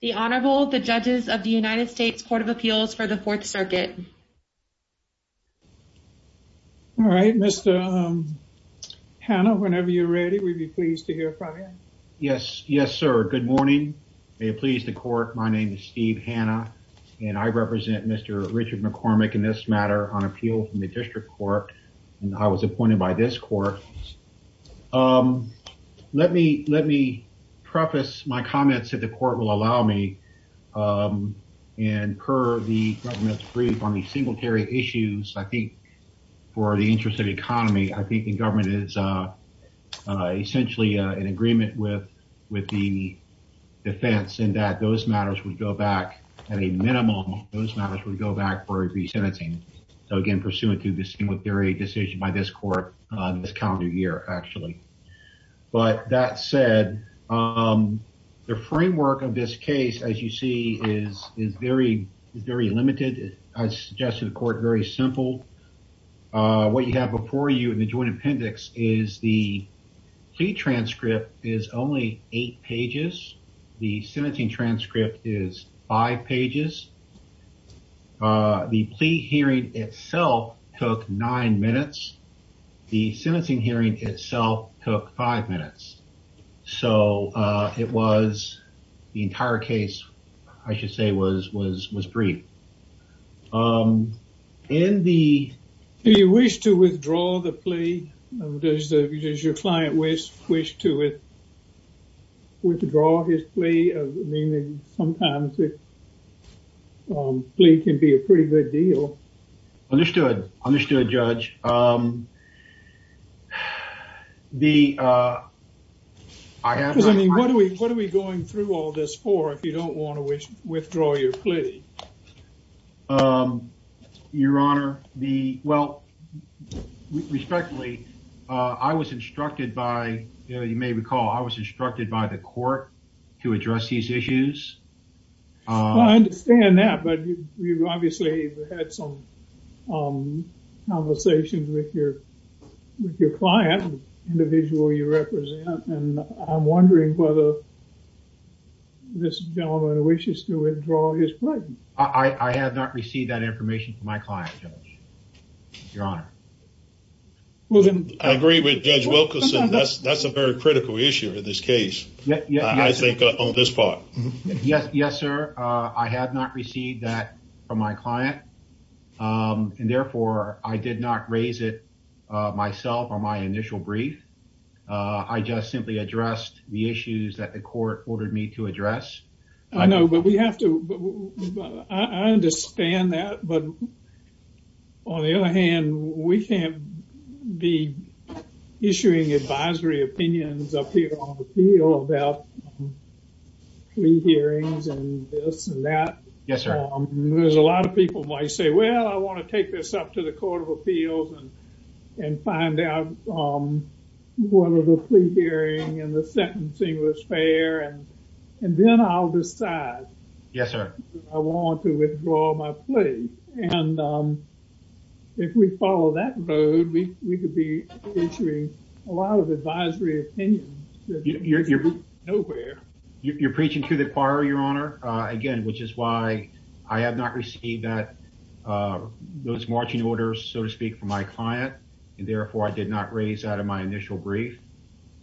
The Honorable, the judges of the United States Court of Appeals for the Fourth Circuit. All right, Mr. Hanna, whenever you're ready, we'd be pleased to hear from you. Yes, yes, sir. Good morning. May it please the court, my name is Steve Hanna and I represent Mr. Richard McCormick in this matter on appeal from the District Court and I was appointed by this um, let me, let me preface my comments that the court will allow me, um, and per the government's brief on the singulatary issues, I think for the interest of economy, I think the government is, uh, uh, essentially, uh, in agreement with, with the defense and that those matters would go back at a minimum, those matters would go back for resentencing. So again, pursuant to the decision by this court, uh, this calendar year, actually, but that said, um, the framework of this case, as you see is, is very, very limited. I suggested the court very simple. Uh, what you have before you in the joint appendix is the plea transcript is only eight pages. The sentencing hearing itself took nine minutes. The sentencing hearing itself took five minutes. So, uh, it was, the entire case, I should say, was, was, was brief. Um, in the... Do you wish to withdraw the plea? Does the, does your client wish, wish to withdraw his plea? I mean, sometimes it, um, plea can be a pretty good deal. Understood. Understood, judge. Um, the, uh, I have... I mean, what are we, what are we going through all this for if you don't want to withdraw your plea? Um, your honor, the, well, respectfully, uh, I was instructed by, you know, you may recall, I was instructed by the had some, um, conversations with your, with your client, the individual you represent, and I'm wondering whether this gentleman wishes to withdraw his plea. I, I have not received that information from my client, judge. Your honor. Well, then I agree with Judge Wilkerson. That's, that's a very critical issue in this case. I think on this part. Yes, yes, sir. Uh, I have not received that from my client, um, and therefore, I did not raise it, uh, myself on my initial brief. Uh, I just simply addressed the issues that the court ordered me to address. I know, but we have to, I understand that, but on the other hand, we can't be issuing advisory opinions up here on the court. We can't be issuing advisory opinions. Yes, sir. We can't be issuing a lot of advisory opinions. Yes, sir. There's a lot of people who might say, well, I want to take this up to the court of appeals and, and find out, um, whether the plea hearing and the sentencing was fair, and, and then I'll decide. Yes, sir. I want to withdraw my plea, and, um, if we follow that road, we, we could be issuing a lot of advisory opinions. You're preaching to the choir, your honor, uh, again, which is why I have not received that, uh, those marching orders, so to speak, from my client, and therefore, I did not raise that in my initial brief.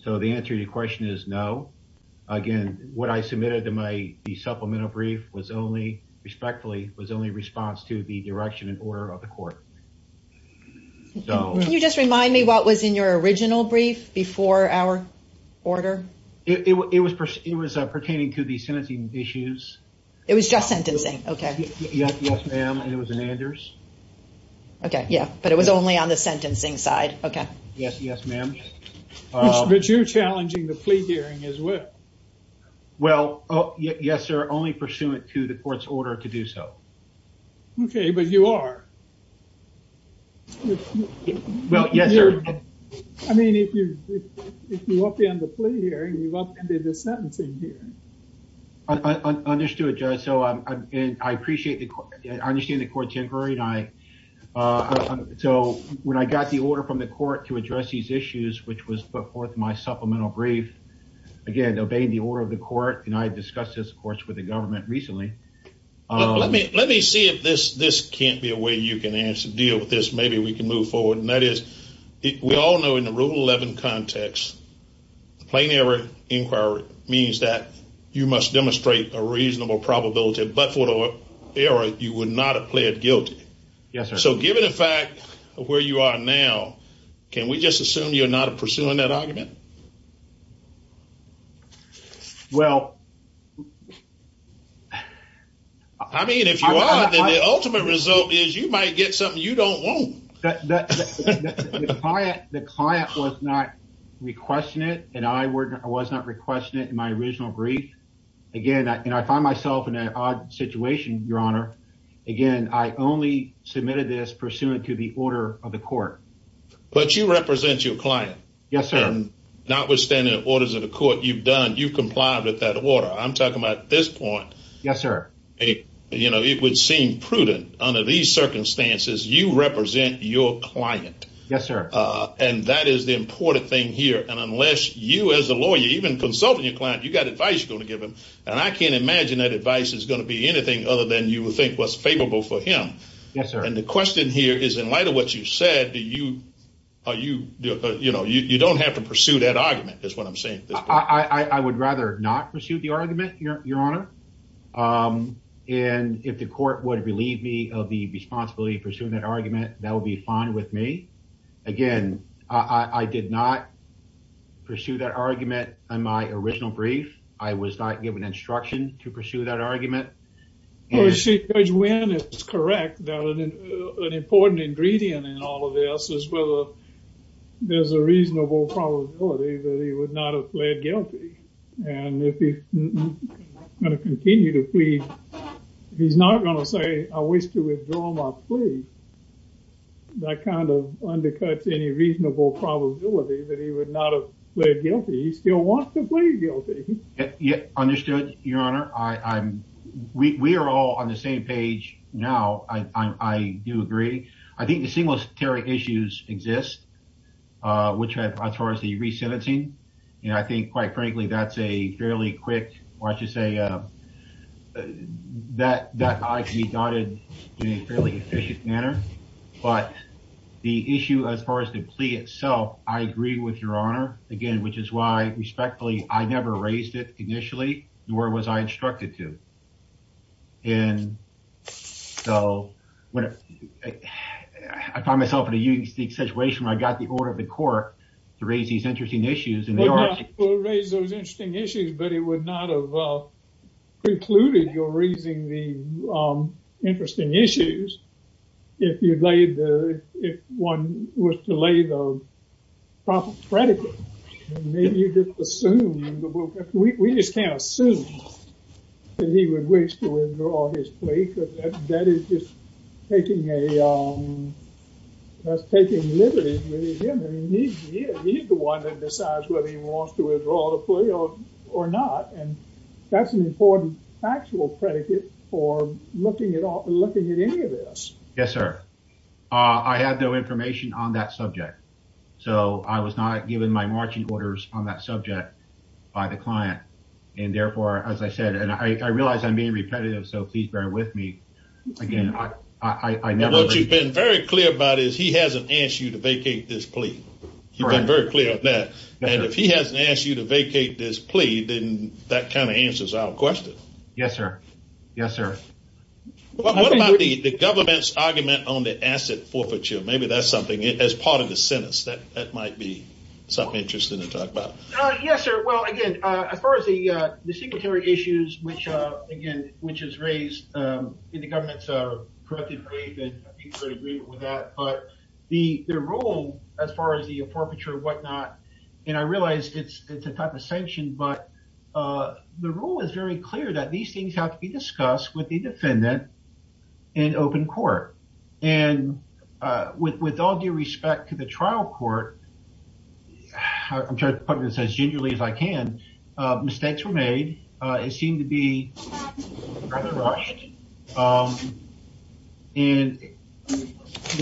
So, the answer to your question is no. Again, what I submitted to my supplemental brief was only, respectfully, was only a response to the direction and order of the court. Can you just remind me what was in your original brief before our order? It was, it was, uh, pertaining to the sentencing issues. It was just sentencing. Okay. Yes, ma'am. And it was an Anders. Okay. Yeah. But it was only on the sentencing side. Okay. Yes. Yes, ma'am. But you're challenging the plea hearing as well. Well, yes, sir. Only pursuant to the court's order to do so. Okay. But you are. Well, yes, sir. I mean, if you, if you want me on the plea hearing, you want me to do the sentencing hearing. I understood, Judge. So, um, and I appreciate the court. I understand the court's inquiry, and I, uh, so when I got the order from the court to address these issues, which was put forth in my supplemental brief, again, obeying the order of the court, and I had discussed this, of course, with the government recently. Let me, let me see if this, this can't be a way you can answer, deal with this. Maybe we can move forward. And that is, we all know in the rule 11 context, the plain error inquiry means that you must demonstrate a reasonable probability, but for the error, you would not have pled guilty. Yes, sir. So given the fact where you are now, can we just assume you're not pursuing that argument? Well, I mean, if you are, then the ultimate result is you might get something you don't want. The client was not requesting it, and I was not requesting it in my original brief. Again, and I find myself in an odd situation, your honor. Again, I only submitted this pursuant to the order of the court. But you represent your client. Yes, sir. And notwithstanding the orders of the court you've done, you've complied with that order. I'm talking about this point. Yes, sir. You know, it would seem prudent under these circumstances, you represent your client. Yes, sir. And that is the important thing here. And unless you as a lawyer, even consulting your client, you got advice you're going to give him. And I can't imagine that advice is going to be anything other than you would think was favorable for him. Yes, sir. And the question here is in light of what you said, do you, are you, you know, you don't have to pursue that argument, is what I'm saying. I would rather not pursue the argument, your honor. And if the court would believe me of the responsibility pursuing that argument, that would be fine with me. Again, I did not pursue that argument on my original brief. I was not given instruction to pursue that argument. Judge Wynn is correct that an important ingredient in all of this is whether there's a reasonable probability that he would not have pled guilty. And if he's going to continue to plead, he's not going to say I wish to withdraw my plea. That kind of undercuts any reasonable probability that he would not have pled guilty. He still wants to plead guilty. Understood, your honor. We are all on the same page now. I do agree. I think the singlestary issues exist, which have, as far as the re-sentencing, you know, I think quite frankly, that's a fairly quick, why don't you say, that can be dotted in a fairly efficient manner. But the issue, as far as the plea itself, I agree with your honor, again, which is why respectfully, I never raised it initially, nor was I instructed to. And so, I find myself in a unique situation where I got the order of the court to raise these interesting issues. We'll raise those interesting issues, but it would not precluded your raising the interesting issues if you'd laid the, if one was to lay the proper predicate. Maybe you just assume, we just can't assume that he would wish to withdraw his plea because that is just taking a, that's taking liberty with him. He's the one that decides whether he wants to withdraw the plea or not. And that's an important factual predicate for looking at any of this. Yes, sir. I have no information on that subject. So, I was not given my marching orders on that subject by the client. And therefore, as I said, and I realize I'm being repetitive, so please bear with me. Again, I never. What you've been very clear about is he hasn't asked you to vacate this plea. You've been very clear on that. And if he hasn't asked you to vacate this plea, then that kind of answers our question. Yes, sir. Yes, sir. What about the government's argument on the asset forfeiture? Maybe that's something, as part of the sentence, that might be something interesting to talk about. Yes, sir. Well, again, as far as the secretariat issues, which again, which is raised in the government's corrective waive and I think we're in agreement with that, but the rule, as far as the forfeiture or whatnot, and I realize it's a type of sanction, but the rule is very clear that these things have to be discussed with the defendant in open court. And with all due respect to the trial court, I'm trying to put this as gingerly as I can, mistakes were made. It seemed to be rather rushed. And when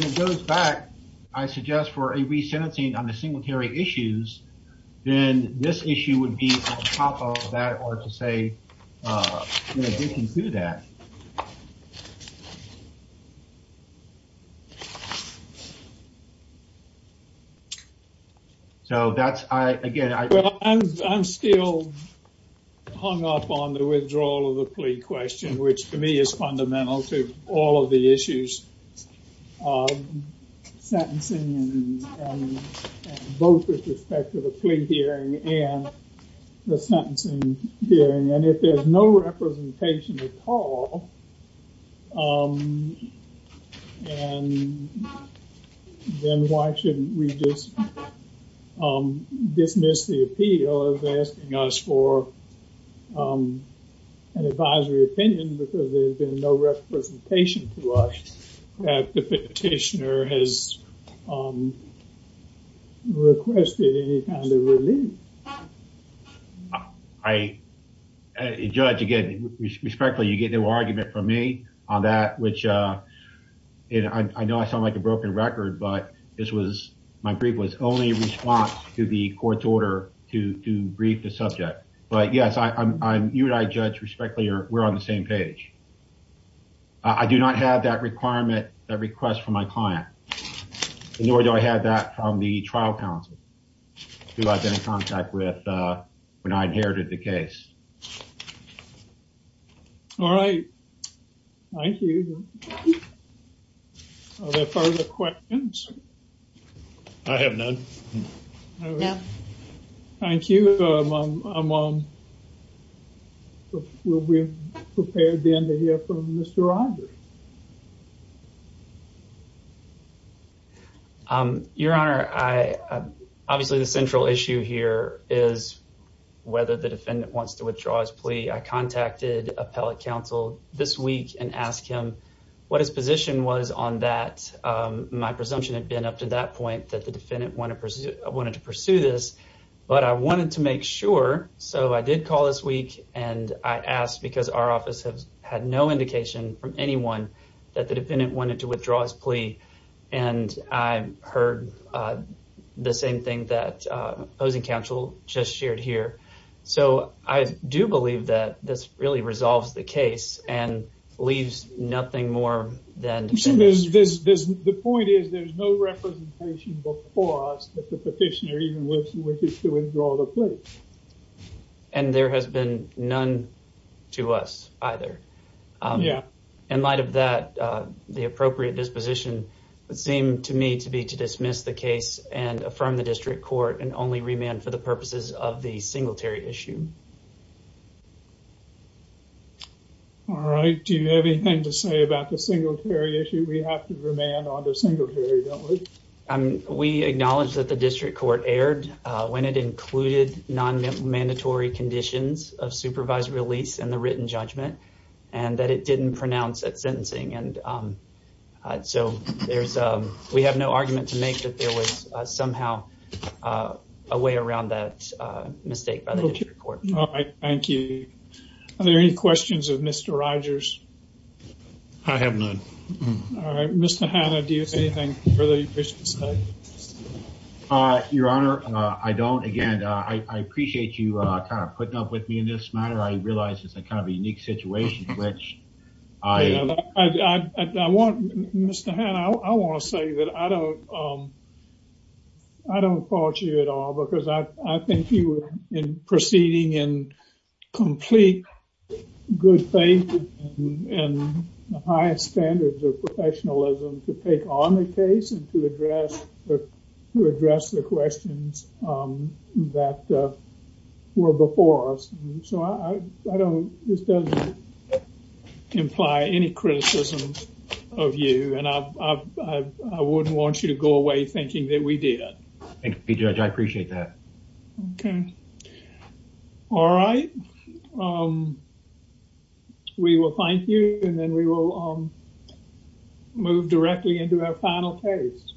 it goes back, I suggest for a re-sentencing on the single carry issues, then this issue would be on top of that or to say addition to that. So that's, again, I'm still hung up on the withdrawal of the plea question, which to me is fundamental to all of the issues of sentencing and both with respect to the plea hearing and the sentencing hearing. And if there's no representation at all, and then why shouldn't we just dismiss the appeal of asking us for an advisory opinion because there's been no representation to us that the petitioner has requested any kind of relief? I, Judge, again, respectfully, you get no argument from me on that, which I know I sound like a broken record, but this was, my brief was only a response to the court's order to you and I, Judge, respectfully, we're on the same page. I do not have that requirement, that request from my client, nor do I have that from the trial counsel who I've been in contact with when I inherited the case. All right. Thank you. Are there further questions? I have none. All right. Thank you. We'll be prepared then to hear from Mr. Rogers. Your Honor, obviously the central issue here is whether the defendant wants to withdraw his plea. I contacted appellate counsel this week and asked him what his position was on that. My presumption had been up to that point that the defendant wanted to pursue this, but I wanted to make sure, so I did call this week and I asked because our office had no indication from anyone that the defendant wanted to withdraw his plea and I heard the same thing that opposing counsel just shared here. So I do believe that this really resolves the case and leaves nothing more than... The point is, there's no representation before us that the petitioner even wishes to withdraw the plea. And there has been none to us either. Yeah. In light of that, the appropriate disposition would seem to me to be to dismiss the case and affirm the district court and only remand for the purposes of the singletary issue. All right, do you have anything to say about the singletary issue? We have to remand on the singletary, don't we? We acknowledge that the district court erred when it included non-mandatory conditions of supervised release in the written judgment and that it didn't pronounce that sentencing. And so we have no argument to make that there was somehow a way around that mistake by the district court. Thank you. Are there any questions of Mr. Rogers? I have none. All right, Mr. Hanna, do you have anything further you wish to say? Your Honor, I don't. Again, I appreciate you kind of putting up with me in this matter. I realize it's a kind of a unique situation, which I... I want... Mr. Hanna, I want to say that I don't... I don't fault you at all because I think you were proceeding in complete good faith and the highest standards of professionalism to take on the case and to address the questions that were before us. So I don't... This doesn't imply any criticisms of you and I wouldn't want you to go away thinking that we did it. Thank you, Judge. I appreciate that. Okay. All right. We will thank you and then we will move directly into our final case.